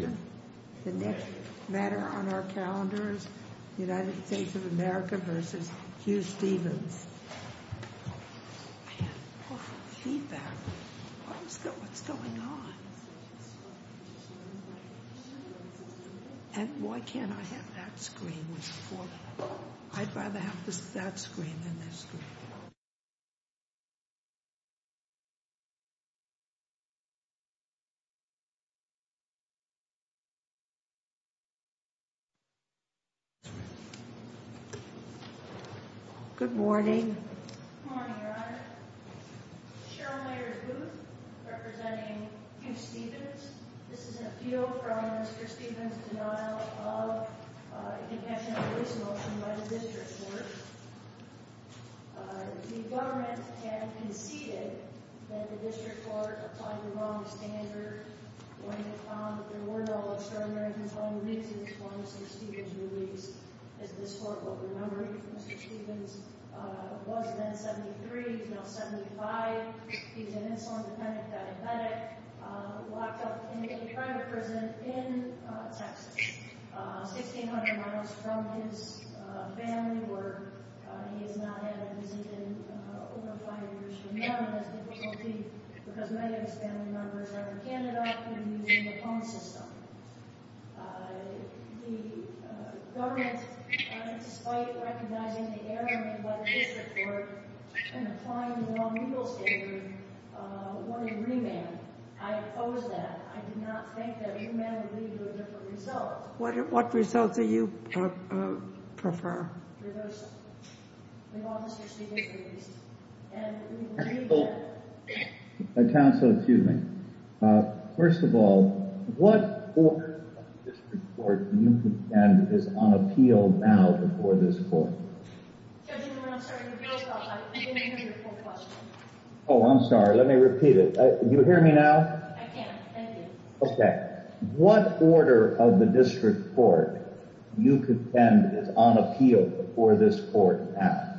I had awful feedback. What's going on? And why can't I have that screen? I'd rather have that screen than this screen. Good morning, Your Honor. Cheryl Mayers Booth, representing Hugh Stevens. This is a feud from Mr. Stevens' denial of independent police motion by the district court. The government had conceded that the district court applied the wrong standard when it found that there were no extraordinary controlling reasons for Mr. Stevens' release. As this court will remember, Mr. Stevens was then 73. He's now 75. He's an insulin-dependent diabetic, locked up in a private prison in Texas, 1,600 miles from his family where he has not had a visit in over five years. And now he has difficulty because many of his family members are in Canada and using the phone system. The government, despite recognizing the error made by the district court in applying the wrong legal standard, wanted remand. I opposed that. I did not think that remand would lead to a different result. What results do you prefer? Your Honor, we've all just received a release, and we believe that... Counsel, excuse me. First of all, what order of the district court do you contend is on appeal now before this court? Judge, I'm sorry. I didn't hear your full question. Oh, I'm sorry. Let me repeat it. Can you hear me now? I can. Thank you. What order of the district court do you contend is on appeal before this court now?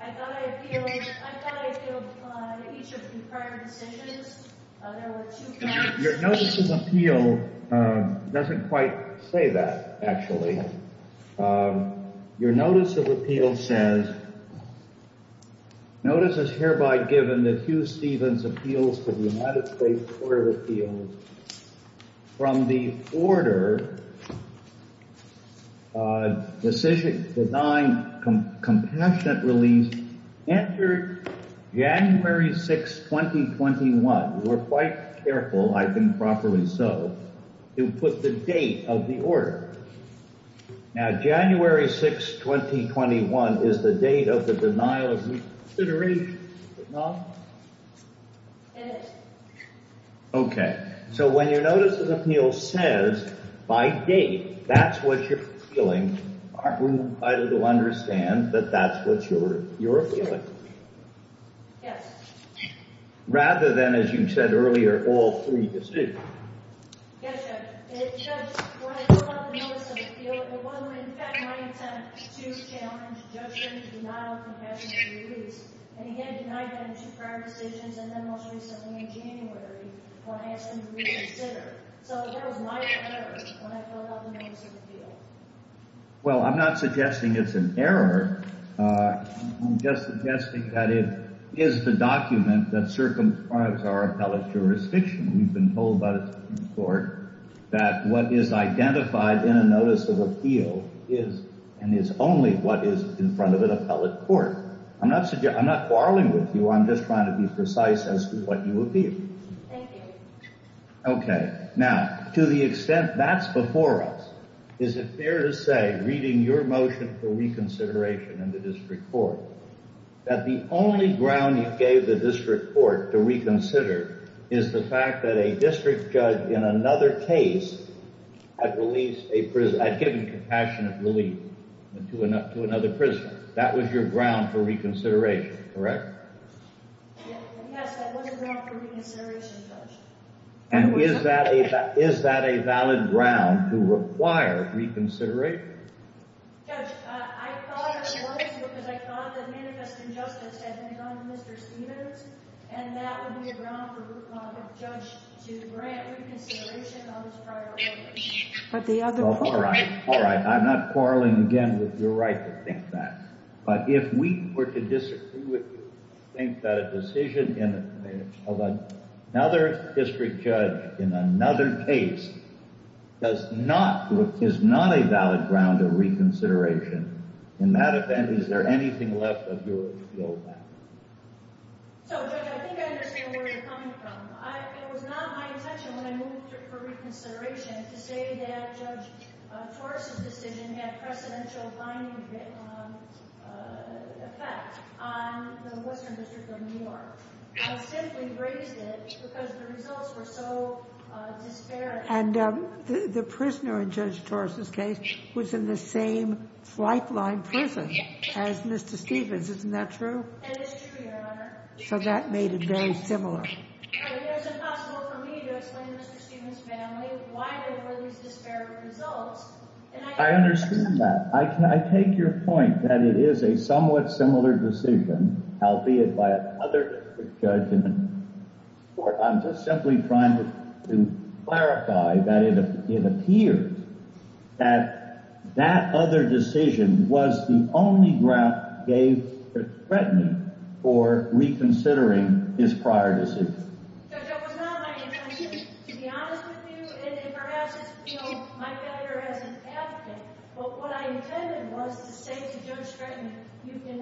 I thought I appealed on each of the prior decisions. There were two counts. Your notice of appeal doesn't quite say that, actually. Your notice of appeal says, Notice is hereby given that Hugh Stevens appeals to the United States Court of Appeals from the order, Decision Design Compassionate Release, entered January 6, 2021. We're quite careful, I think properly so, to put the date of the order. Now, January 6, 2021 is the date of the denial of reconsideration, is it not? It is. Okay. So when your notice of appeal says, by date, that's what you're appealing, aren't we invited to understand that that's what you're appealing? Yes. Rather than, as you said earlier, all three decisions. Yes, Judge. When I filled out the notice of appeal, it wasn't, in fact, my intent to challenge Judge Stevens' denial of compassionate release. And he had denied them two prior decisions and then most recently in January when I asked him to reconsider. So that was my error when I filled out the notice of appeal. Well, I'm not suggesting it's an error. I'm just suggesting that it is the document that in court that what is identified in a notice of appeal is and is only what is in front of an appellate court. I'm not quarreling with you. I'm just trying to be precise as to what you appeal. Thank you. Okay. Now, to the extent that's before us, is it fair to say, reading your motion for reconsideration in the district court, that the only ground you gave the district court to reconsider is the fact that a district judge in another case had released a prisoner, had given compassionate release to another prisoner? That was your ground for reconsideration, correct? Yes, that was a ground for reconsideration, Judge. And is that a valid ground to require reconsideration? Judge, I thought it was because I thought that manifest injustice had been done to Mr. Stevens and that would be a ground for a judge to grant reconsideration of his prior offences. But the other court— All right. All right. I'm not quarreling again with your right to think that. But if we were to disagree with you and think that a decision of another district judge in another case does not, is not a valid ground of reconsideration, in that event, is there anything left of yours to go back to? So, Judge, I think I understand where you're coming from. It was not my intention when I moved for reconsideration to say that Judge Torres' decision had a precedential binding effect on the Western District of New York. I simply raised it because the results were so disparate. And the prisoner in Judge Torres' case was in the same flightline prison as Mr. Stevens. Isn't that true? That is true, Your Honor. So that made it very similar. It is impossible for me to explain to Mr. Stevens' family why there were these disparate results. I understand that. I take your point that it is a somewhat similar decision, albeit by another district judge in another court. I'm just simply trying to clarify that it appears that that other decision was the only ground that gave Judge Stretton for reconsidering his prior decision. Judge, it was not my intention, to be honest with you, and perhaps it's my failure as an attorney, to reconsider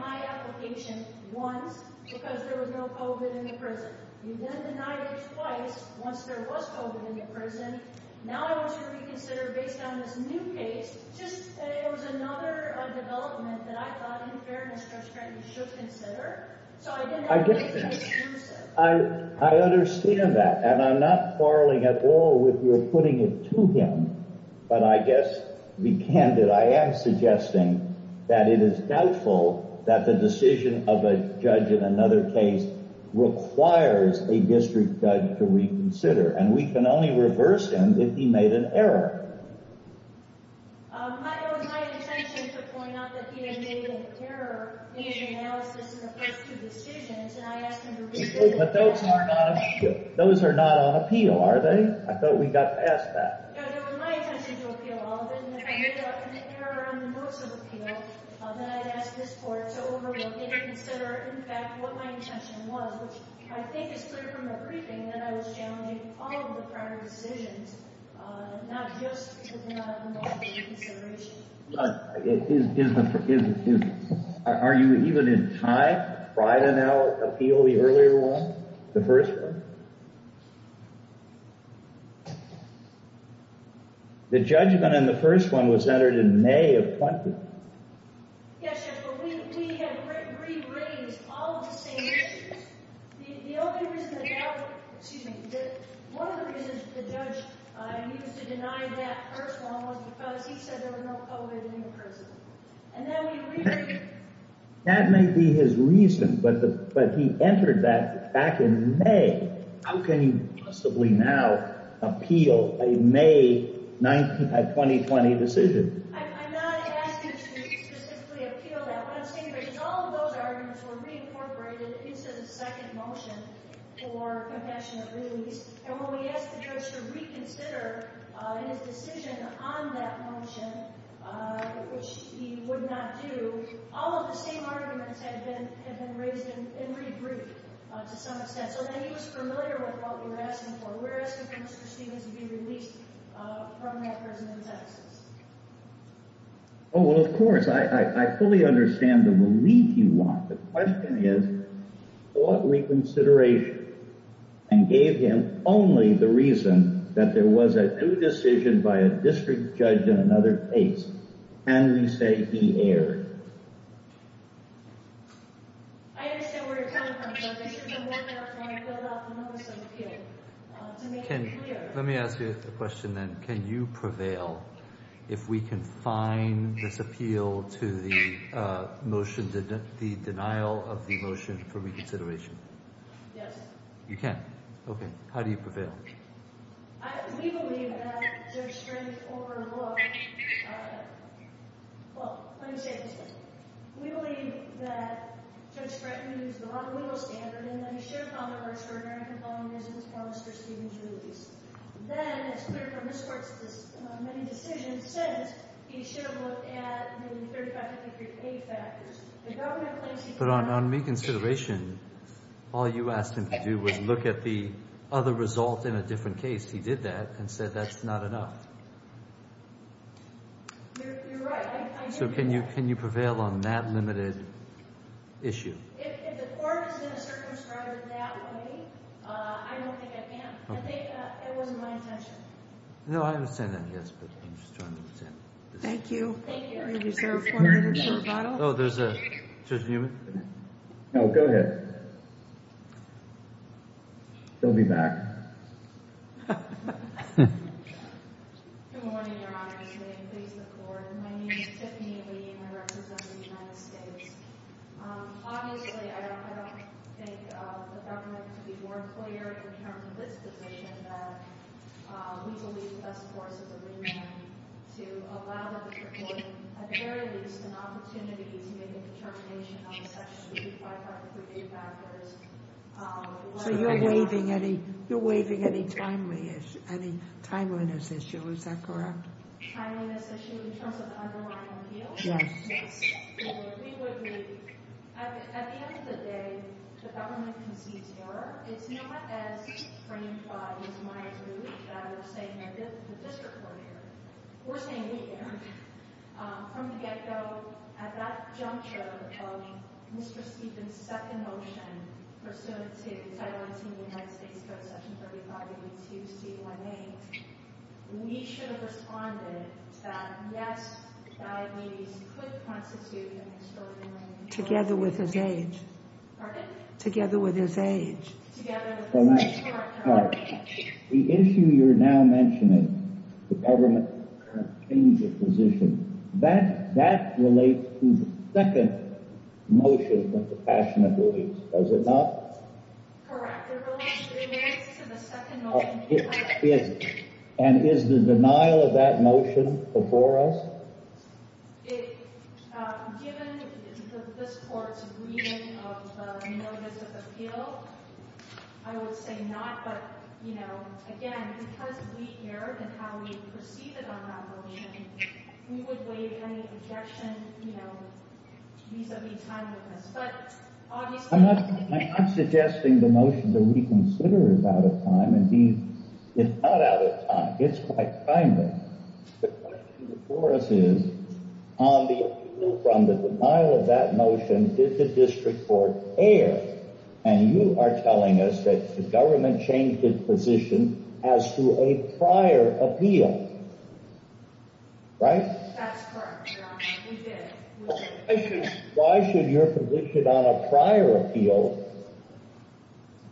my decision once because there was no COVID in the prison. You then denied it twice once there was COVID in the prison. Now I want to reconsider based on this new case, just that it was another development that I thought, in fairness, Judge Stretton, you should consider. So I didn't want to make it exclusive. I get that. I understand that. And I'm not quarreling at all with your putting it to him. But I guess, to be candid, I am suggesting that it is doubtful that the decision of a judge in another case requires a district judge to reconsider. And we can only reverse him if he made an error. It was my intention to point out that he had made an error in his analysis of the first two decisions, and I asked him to reconsider. But those are not on appeal, are they? I thought we got past that. It was my intention to appeal all of it, and if I made an error on the most of the appeal, then I'd ask this court to overlook it and consider, in fact, what my intention was, which I think is clear from the briefing that I was challenging all of the prior decisions, not just the non-appeal consideration. Is the—are you even in time to try to now appeal the earlier one, the first one? The judgment on the first one was entered in May of 20— Yes, Your Honor, but we have re-read all of the same issues. The only reason that—excuse me—one of the reasons that the judge used to deny that first one was because he said there was no COVID in the prison, and then we re-read— That may be his reason, but he entered that back in May. How can you possibly now appeal a May 2020 decision? I'm not asking you to specifically appeal that. What I'm saying is all of those arguments were reincorporated into the second motion for compassionate release, and when we asked the judge to reconsider his decision on that motion, which he would not do, all of the same arguments had been raised and re-briefed to some extent. So then he was familiar with what we were asking for. We're asking for Mr. Stevens to be released from that prison in Texas. Oh, well, of course. I fully understand the relief you want. The question is, what reconsideration, and gave him only the reason that there was a due decision by a district judge in another case, can we say he erred? I understand where you're coming from, but this is a workout for him to fill out the notice of appeal to make it clear. Let me ask you a question then. Can you prevail if we can find this appeal to the motion, the denial of the motion for reconsideration? Yes. You can? Okay. How do you prevail? We believe that Judge Stratton overlooked, well, let me say it this way. We believe that Judge Stratton used the Juan Lugo standard and that he shared common reasons for Mr. Stevens' release. Then it's clear from this court's many decisions since he should have looked at the 35 to 53 pay factors. The government claims he did not. But on reconsideration, all you asked him to do was look at the other result in a different case. He did that and said that's not enough. You're right. So can you prevail on that limited issue? If the court is going to circumscribe it that way, I don't think I can. I think that wasn't my intention. No, I understand that. Yes, but I'm just trying to understand. Thank you. Thank you. I reserve four minutes for rebuttal. Oh, there's a, Judge Newman? No, go ahead. She'll be back. Good morning, Your Honor. Good evening. Please look forward. My name is Tiffany Lee and I represent the United States. Obviously, I don't think the government could be more clear in terms of this position that we believe the best course is to allow the Supreme Court, at the very least, an opportunity to make a determination on a section of the 35 to 53 pay factors. So you're waiving any timeliness issue, is that correct? Timeliness issue in terms of the underlying appeal? Yes. We would be. At the end of the day, the government concedes error. It's not as framed by these minor groups that are saying the district court error. We're saying we're here. From the get-go, at that juncture of Mr. Stephen's second motion, pursuant to Title 18 of the United States Code, Section 35-52-C1A, we should have responded to that, yes, diabetes could constitute an extraordinary disorder. Together with his age. Pardon? Together with his age. Together with his age, correct. Correct. The issue you're now mentioning, the government change of position, that relates to the second motion that the passionate believes, does it not? Correct. It relates to the second motion. And is the denial of that motion before us? It, given this court's agreement of a more visible appeal, I would say not. But, you know, again, because we erred in how we proceeded on that motion, we would waive any objection, you know, vis-a-vis timeliness. But obviously— I'm not suggesting the motion that we consider is out of time. Indeed, it's not out of time. It's quite timely. The question before us is, on the appeal from the denial of that motion, did the district court err? And you are telling us that the government changed its position as to a prior appeal. Right? That's correct, Your Honor. We did. Why should your position on a prior appeal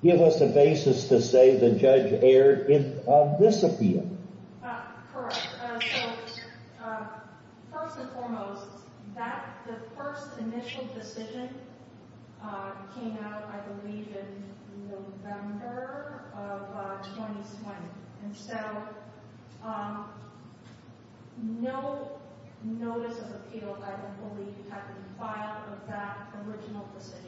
give us a basis to say the judge erred in this appeal? Correct. So, first and foremost, that—the first initial decision came out, I believe, in November of 2020. And so, no notice of appeal, I would believe, had been filed with that original decision.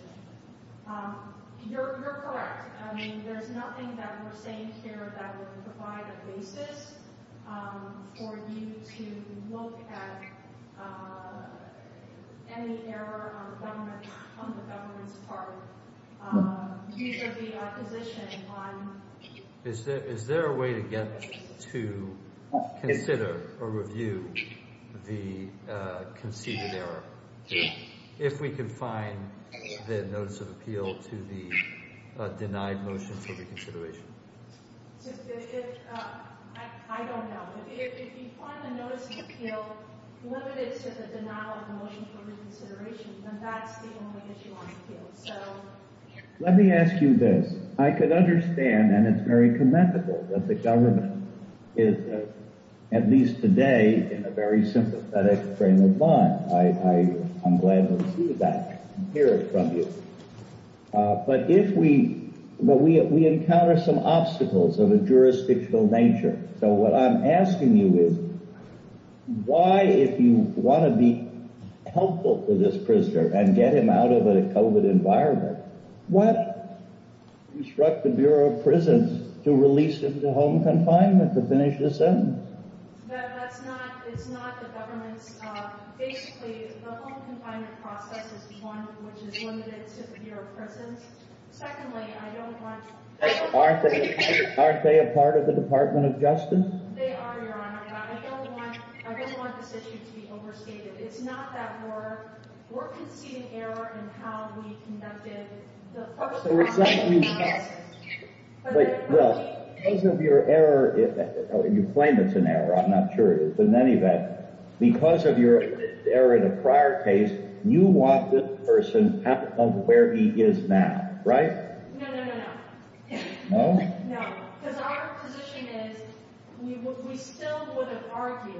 You're correct. I mean, there's nothing that we're saying here that would provide a basis for you to look at any error on the government's part. These are the opposition on— Is there a way to get to consider or review the conceded error? If we could find the notice of appeal to the denied motion for reconsideration. I don't know. If you find the notice of appeal limited to the denial of the motion for reconsideration, then that's the only issue on the field. So— Let me ask you this. I could understand, and it's very commendable, that the government is, at least today, in a very sympathetic frame of mind. I'm glad to see that and hear it from you. But if we—but we encounter some obstacles of a jurisdictional nature. So, what I'm asking you is, why, if you want to be helpful to this prisoner and get him out of a COVID environment, why instruct the Bureau of Prisons to release him to home confinement to finish his sentence? That's not—it's not the government's—basically, the home confinement process is the one which is limited to the Bureau of Prisons. Secondly, I don't want— Aren't they a part of the Department of Justice? They are, Your Honor, but I don't want—I don't want this issue to be overstated. It's not that we're conceding error in how we conducted the public— So, it's not that you— —process. I'm not sure it is. But in any event, because of your error in a prior case, you want this person out of where he is now, right? No, no, no, no. No? No. Because our position is, we still would have argued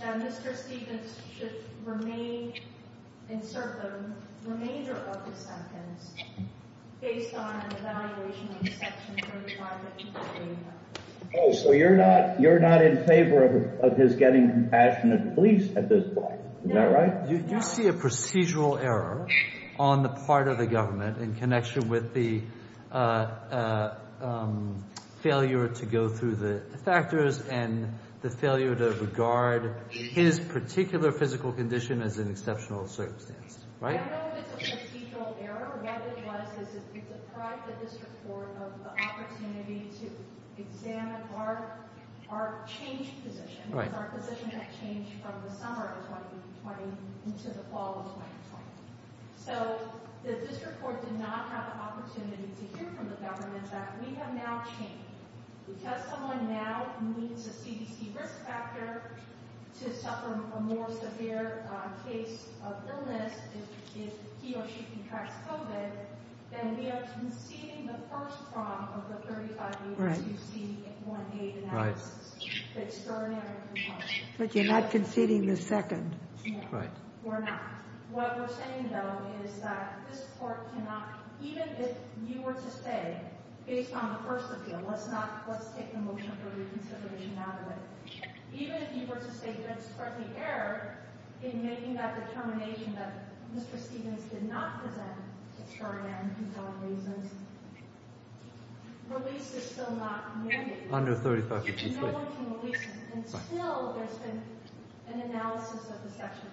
that Mr. Stevens should remain—insert the remainder of the sentence, based on an evaluation of Section 35 that he was bringing up. Oh, so you're not—you're not in favor of his getting compassionate release at this point, is that right? You see a procedural error on the part of the government in connection with the failure to go through the factors and the failure to regard his particular physical condition as an exceptional circumstance, right? I don't know if it's a procedural error. What it was is it deprived the district court of the opportunity to examine our changed position. Right. It's our position that changed from the summer of 2020 into the fall of 2020. So, the district court did not have the opportunity to hear from the government that we have now changed. Because someone now needs a CDC risk factor to suffer a more severe case of illness if he or she contracts COVID, then we are conceding the first prompt of the 35 years you see in Section 38.8 and that's the extraordinary compulsion. But you're not conceding the second. No, we're not. What we're saying, though, is that this court cannot—even if you were to say, based on the first appeal, let's not—let's take the motion for reconsideration out of it, even if you were to state there's a corrective error in making that determination that Mr. Stevens did not present to Chardin, whose own reasons, release is still not mandated. Under 35 years later. No one can release him. And still, there's been an analysis of the Section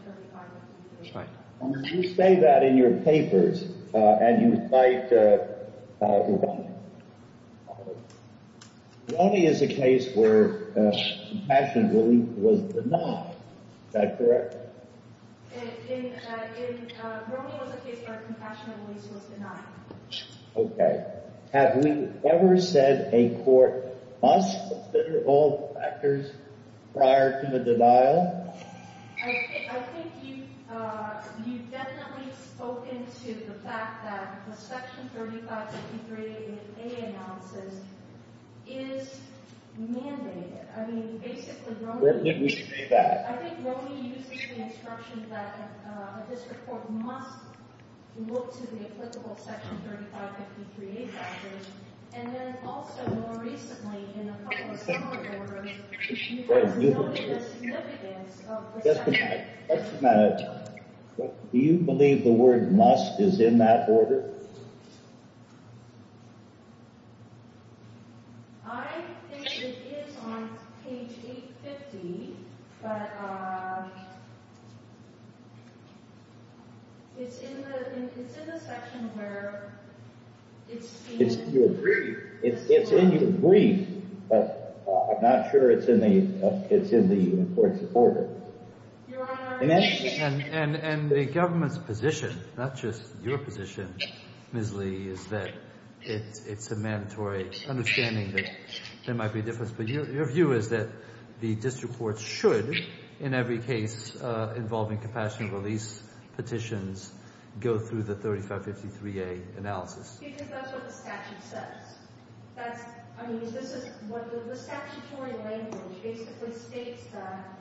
35.8. Right. When you say that in your papers, and you cite Roney, Roney is a case where compassionate relief was denied. Is that correct? In—Roney was a case where compassionate relief was denied. Okay. Have we ever said a court must consider all factors prior to the denial? I think you've definitely spoken to the fact that the Section 35.83A analysis is mandated. I mean, basically, Roney— Where did we say that? I think Roney uses the instruction that a district court must look to the applicable Section 35.53A factors, and then also, more recently, in a couple of similar orders, you have noted the significance of the Section 35.83A. Just a minute. Just a minute. Do you believe the word must is in that order? I think it is on page 850, but it's in the section where it's in— It's in your brief, but I'm not sure it's in the court's order. Your Honor— And the government's position, not just your position. Ms. Lee, is that it's a mandatory understanding that there might be a difference, but your view is that the district courts should, in every case involving compassionate release petitions, go through the 35.53A analysis. Because that's what the statute says. That's—I mean, this is—the statutory language basically states that,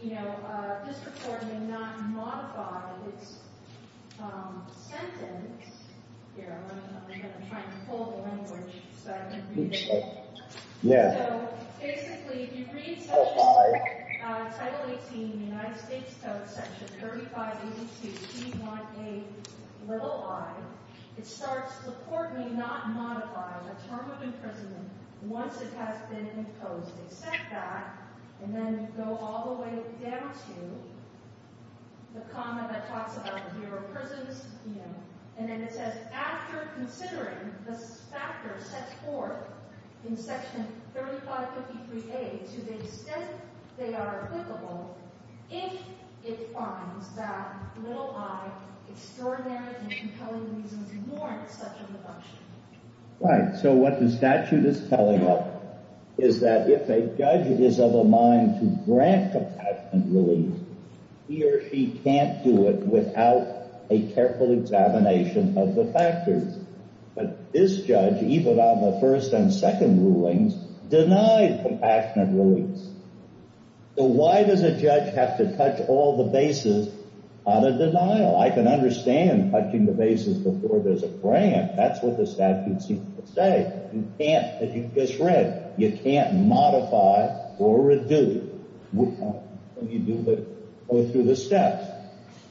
you know, district court may not modify its sentence. Here, I'm trying to pull the language so I can read it. Yeah. So, basically, if you read Title 18 in the United States Code, Section 35.82B.1.8, little i, it starts, the court may not modify the term of imprisonment once it has been imposed. They set that, and then go all the way down to the comma that talks about the year of prison, and then it says, after considering the factors set forth in Section 35.53A to the extent they are applicable, if it finds that little i, extraordinary and compelling reasons, warrant such a reduction. Right. So what the statute is telling us is that if a judge is of a mind to grant compassionate release, he or she can't do it without a careful examination of the factors. But this judge, even on the first and second rulings, denied compassionate release. So why does a judge have to touch all the bases on a denial? I can understand touching the bases before there's a grant. That's what the statute seems to say. You can't, as you just read, you can't modify or reduce what you do, but go through the steps.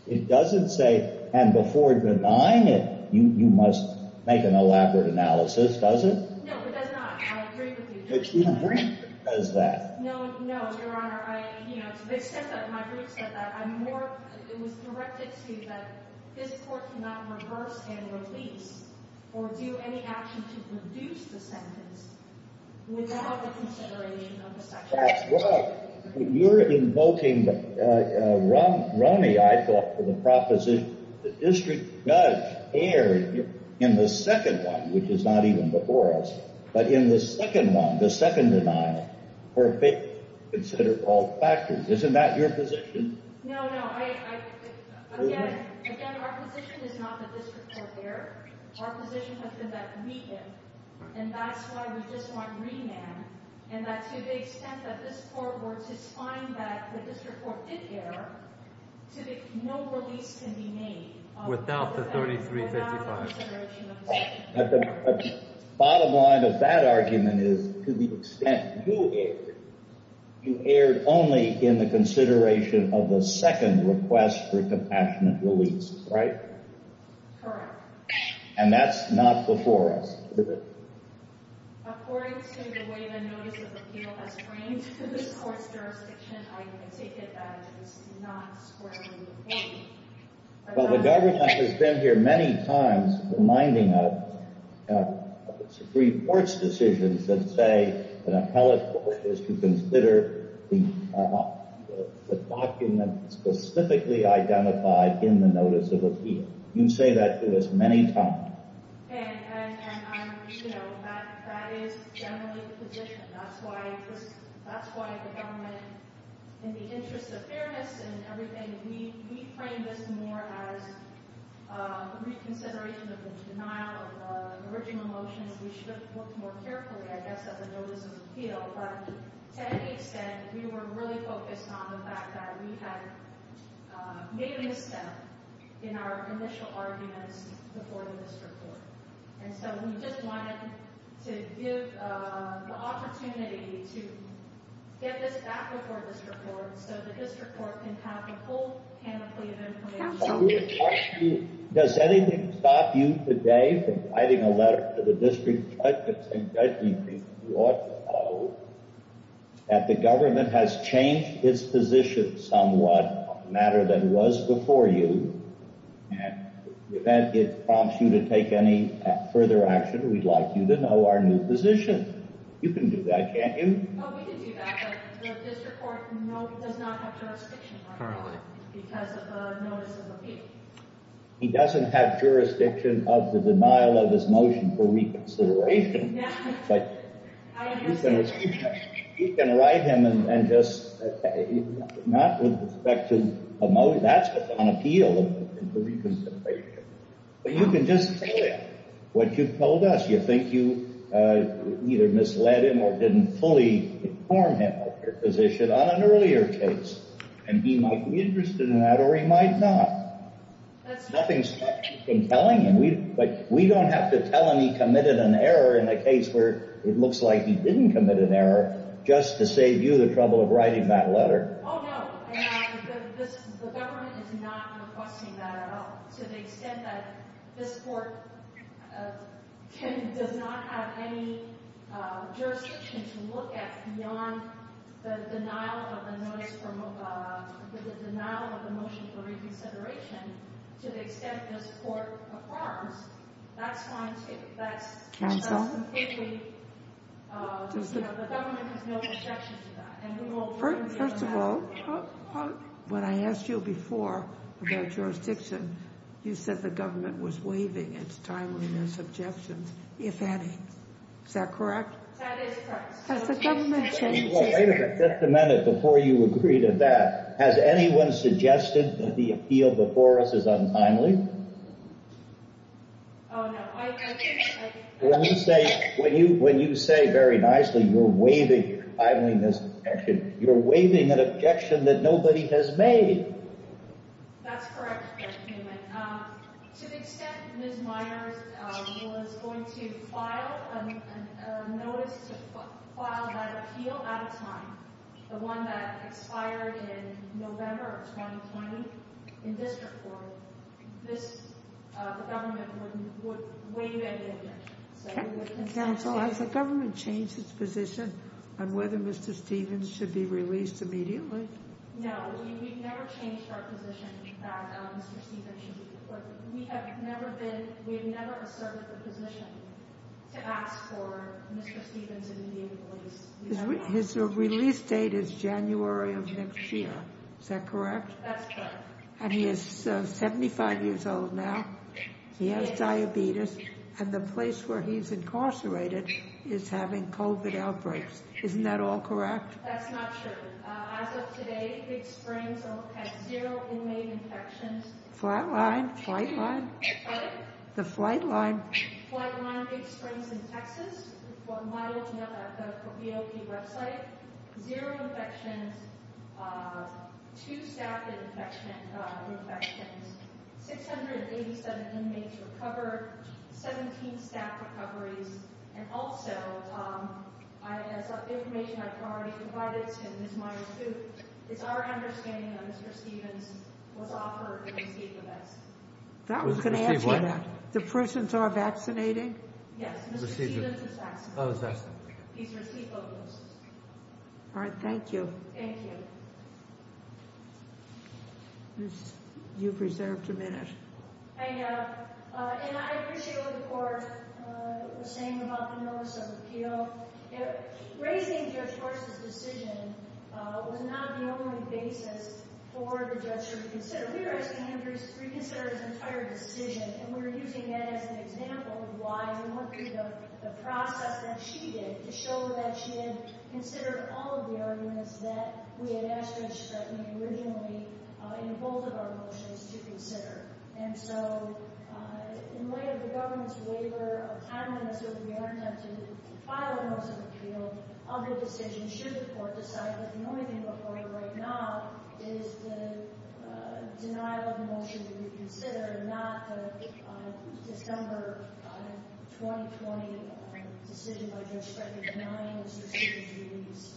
It doesn't say, and before denying it, you must make an elaborate analysis, does it? No, it does not. I agree with you. But who says that? No, no, Your Honor. I, you know, to the extent that my brief said that, I'm more, it was directed to that this court cannot reverse and release or do any action to reduce the sentence without the consideration of the statute. You're invoking Romney, I thought, for the proposition that the district judge erred in the second one, which is not even before us. But in the second one, the second denial, were considered all factors. Isn't that your position? No, no, I, again, again, our position is not that this report erred. Our position has been that we did, and that's why we just want remand, and that to the extent that this court were to find that this report did err, to the, no release can be made. Without the 3355. Without the consideration of the statute. Bottom line of that argument is, to the extent you erred, you erred only in the consideration of the second request for compassionate release, right? Correct. And that's not before us, is it? According to the way the notice of appeal is framed for this court's jurisdiction, I can take it that it is not squarely the case. Well, the government has been here many times reminding us of Supreme Court's decisions that say an appellate court is to consider the document specifically identified in the notice of appeal. You say that to us many times. And I'm, you know, that is generally the position. That's why the government, in the interest of fairness and everything, we frame this more as a reconsideration of the denial of the original motions. We should have looked more carefully, I guess, at the notice of appeal. But to any extent, we were really focused on the fact that we had made a misstep in our initial arguments before the district court. And so we just wanted to give the opportunity to get this back before the district court so the district court can have the full panoply of information. That's a really good question. Does anything stop you today from writing a letter to the district judge and saying, Judge, you ought to know that the government has changed its position somewhat on a matter that was before you. And in the event it prompts you to take any further action, we'd like you to know our new position. You can do that, can't you? Oh, we can do that. But the district court does not have jurisdiction. Currently. Because of the notice of appeal. He doesn't have jurisdiction of the denial of his motion for reconsideration. Yeah. But you can write him and just, not with respect to a motion. That's on appeal for reconsideration. But you can just tell him what you've told us. You think you either misled him or didn't fully inform him of your position on an earlier case. And he might be interested in that, or he might not. That's true. Nothing's stopped you from telling him. But we don't have to tell him he committed an error in a case where it looks like he didn't commit an error just to save you the trouble of writing that letter. Oh, no. And the government is not requesting that at all. To the extent that this court does not have any jurisdiction to look at beyond the denial of the motion for reconsideration, to the extent this court affirms, that's fine too. That's completely, the government has no objection to that. And we will continue to do that. First of all, when I asked you before about jurisdiction, you said the government was waiving its timeliness objections, if any. Is that correct? That is correct. Has the government changed? Wait a minute. Just a minute before you agree to that. Has anyone suggested that the appeal before us is untimely? Oh, no. When you say very nicely you're waiving timeliness objection, you're waiving an objection that nobody has made. That's correct, Mr. Newman. To the extent Ms. Meyers was going to file a notice to file that appeal at a time, the one that expired in November of 2020, in district court, this, the government would waive any objection. Counsel, has the government changed its position on whether Mr. Stevens should be released immediately? No, we've never changed our position that Mr. Stevens should be released. We have never been, we've never asserted the position to ask for Mr. Stevens' immediate release. His release date is January of next year. Is that correct? That's correct. And he is 75 years old now. He has diabetes. And the place where he's incarcerated is having COVID outbreaks. Isn't that all correct? That's not true. As of today, Big Springs has zero inmate infections. Flatline? Flightline? Sorry? The flightline. Flightline Big Springs in Texas. We're modeling that at the BOP website. Zero infections, two staff infections, 687 inmates recovered, 17 staff recoveries, and also, Tom, as information I've already provided to Ms. Myers too, it's our understanding that Mr. Stevens was offered and received the best. That was going to answer that. The persons are vaccinating? Yes, Mr. Stevens is vaccinated. Oh, is that so? He's received both doses. All right, thank you. Thank you. You've reserved a minute. I know. And I appreciate what the court was saying about the notice of appeal. Raising Judge Horst's decision was not the only basis for the judge to reconsider. We were asking him to reconsider his entire decision, and we were using that as an example of why we wanted the process that she did to show that she had considered all of the arguments that we had asked Judge Stratton originally in both of our motions to consider. And so, in light of the government's waiver of time limits, which we are attempting to file a notice of appeal of the decision, should the court decide that the only thing before you right now is the denial of the motion to reconsider, not the December 2020 decision by Judge Stratton denying Mr. Stevens' release?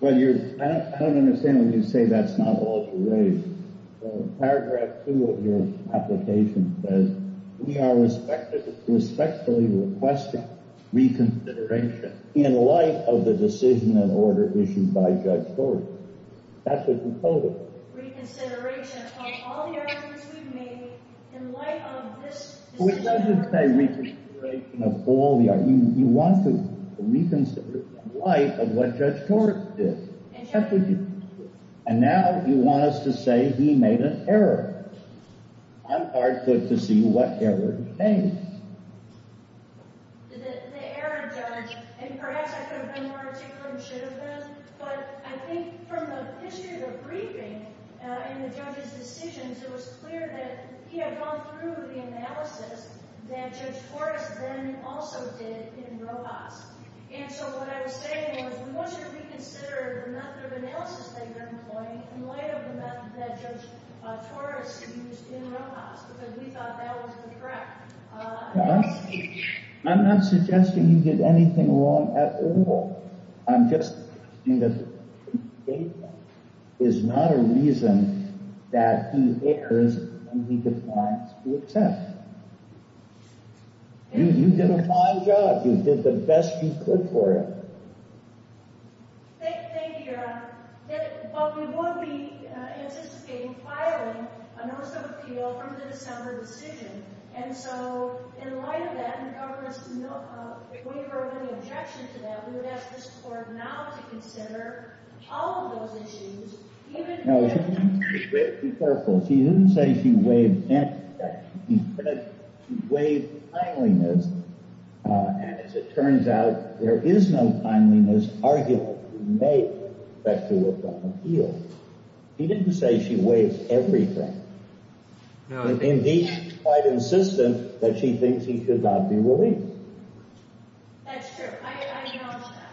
Well, I don't understand when you say that's not the law to raise. Paragraph two of your application says, we are respectfully requesting reconsideration in light of the decision and order issued by Judge Horst. That's what you told us. Reconsideration of all the arguments we've made in light of this decision. It doesn't say reconsideration of all the arguments. You want to reconsider in light of what Judge Horst did. And now you want us to say he made an error. I'm hard-clicked to see what error he made. The error, Judge, and perhaps I could have been more articulate and should have been, but I think from the history of the briefing and the judge's decisions, it was clear that he had gone through the analysis that Judge Horst then also did in Rojas. And so what I was saying was, we want you to reconsider the method of analysis that you're employing in light of the method that Judge Horst used in Rojas, because we thought that was correct. I'm not suggesting you did anything wrong at all. I'm just saying that he is not a reason that he errs when he defines the attempt. You did a fine job. You did the best you could for it. Thank you, Your Honor. But we would be anticipating filing a notice of appeal from the December decision. And so in light of that, and the government's waiver of any objection to that, we would ask the Supreme Court now to consider all of those issues, even— No, be careful. She didn't say she waived—she said she waived timeliness. And as it turns out, there is no timeliness arguable to make a factual appeal. She didn't say she waived everything, but indeed, quite insistent that she thinks he should not be released. That's true. I acknowledge that.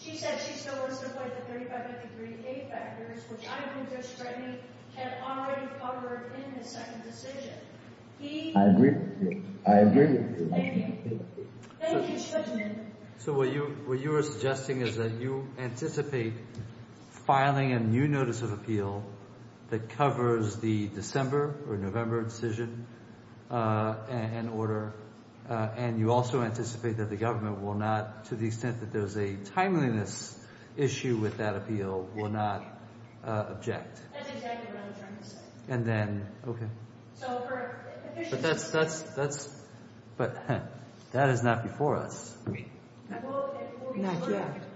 She said she still wants to avoid the 3553A factors, which I think Judge Stratton had already covered in his second decision. I agree with you. I agree with you. Thank you. Thank you, Mr. Judgeman. So what you were suggesting is that you anticipate filing a new notice of appeal that covers the December or November decision and order, and you also anticipate that the government will not, to the extent that there's a timeliness issue with that appeal, will not object. That's exactly what I was trying to say. And then—okay. So for efficiency— But that's—but that is not before us. Not yet.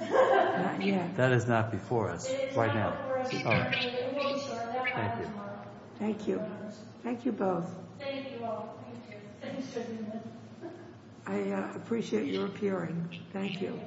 Not yet. That is not before us right now. Thank you. Thank you both. I appreciate your appearing. Thank you.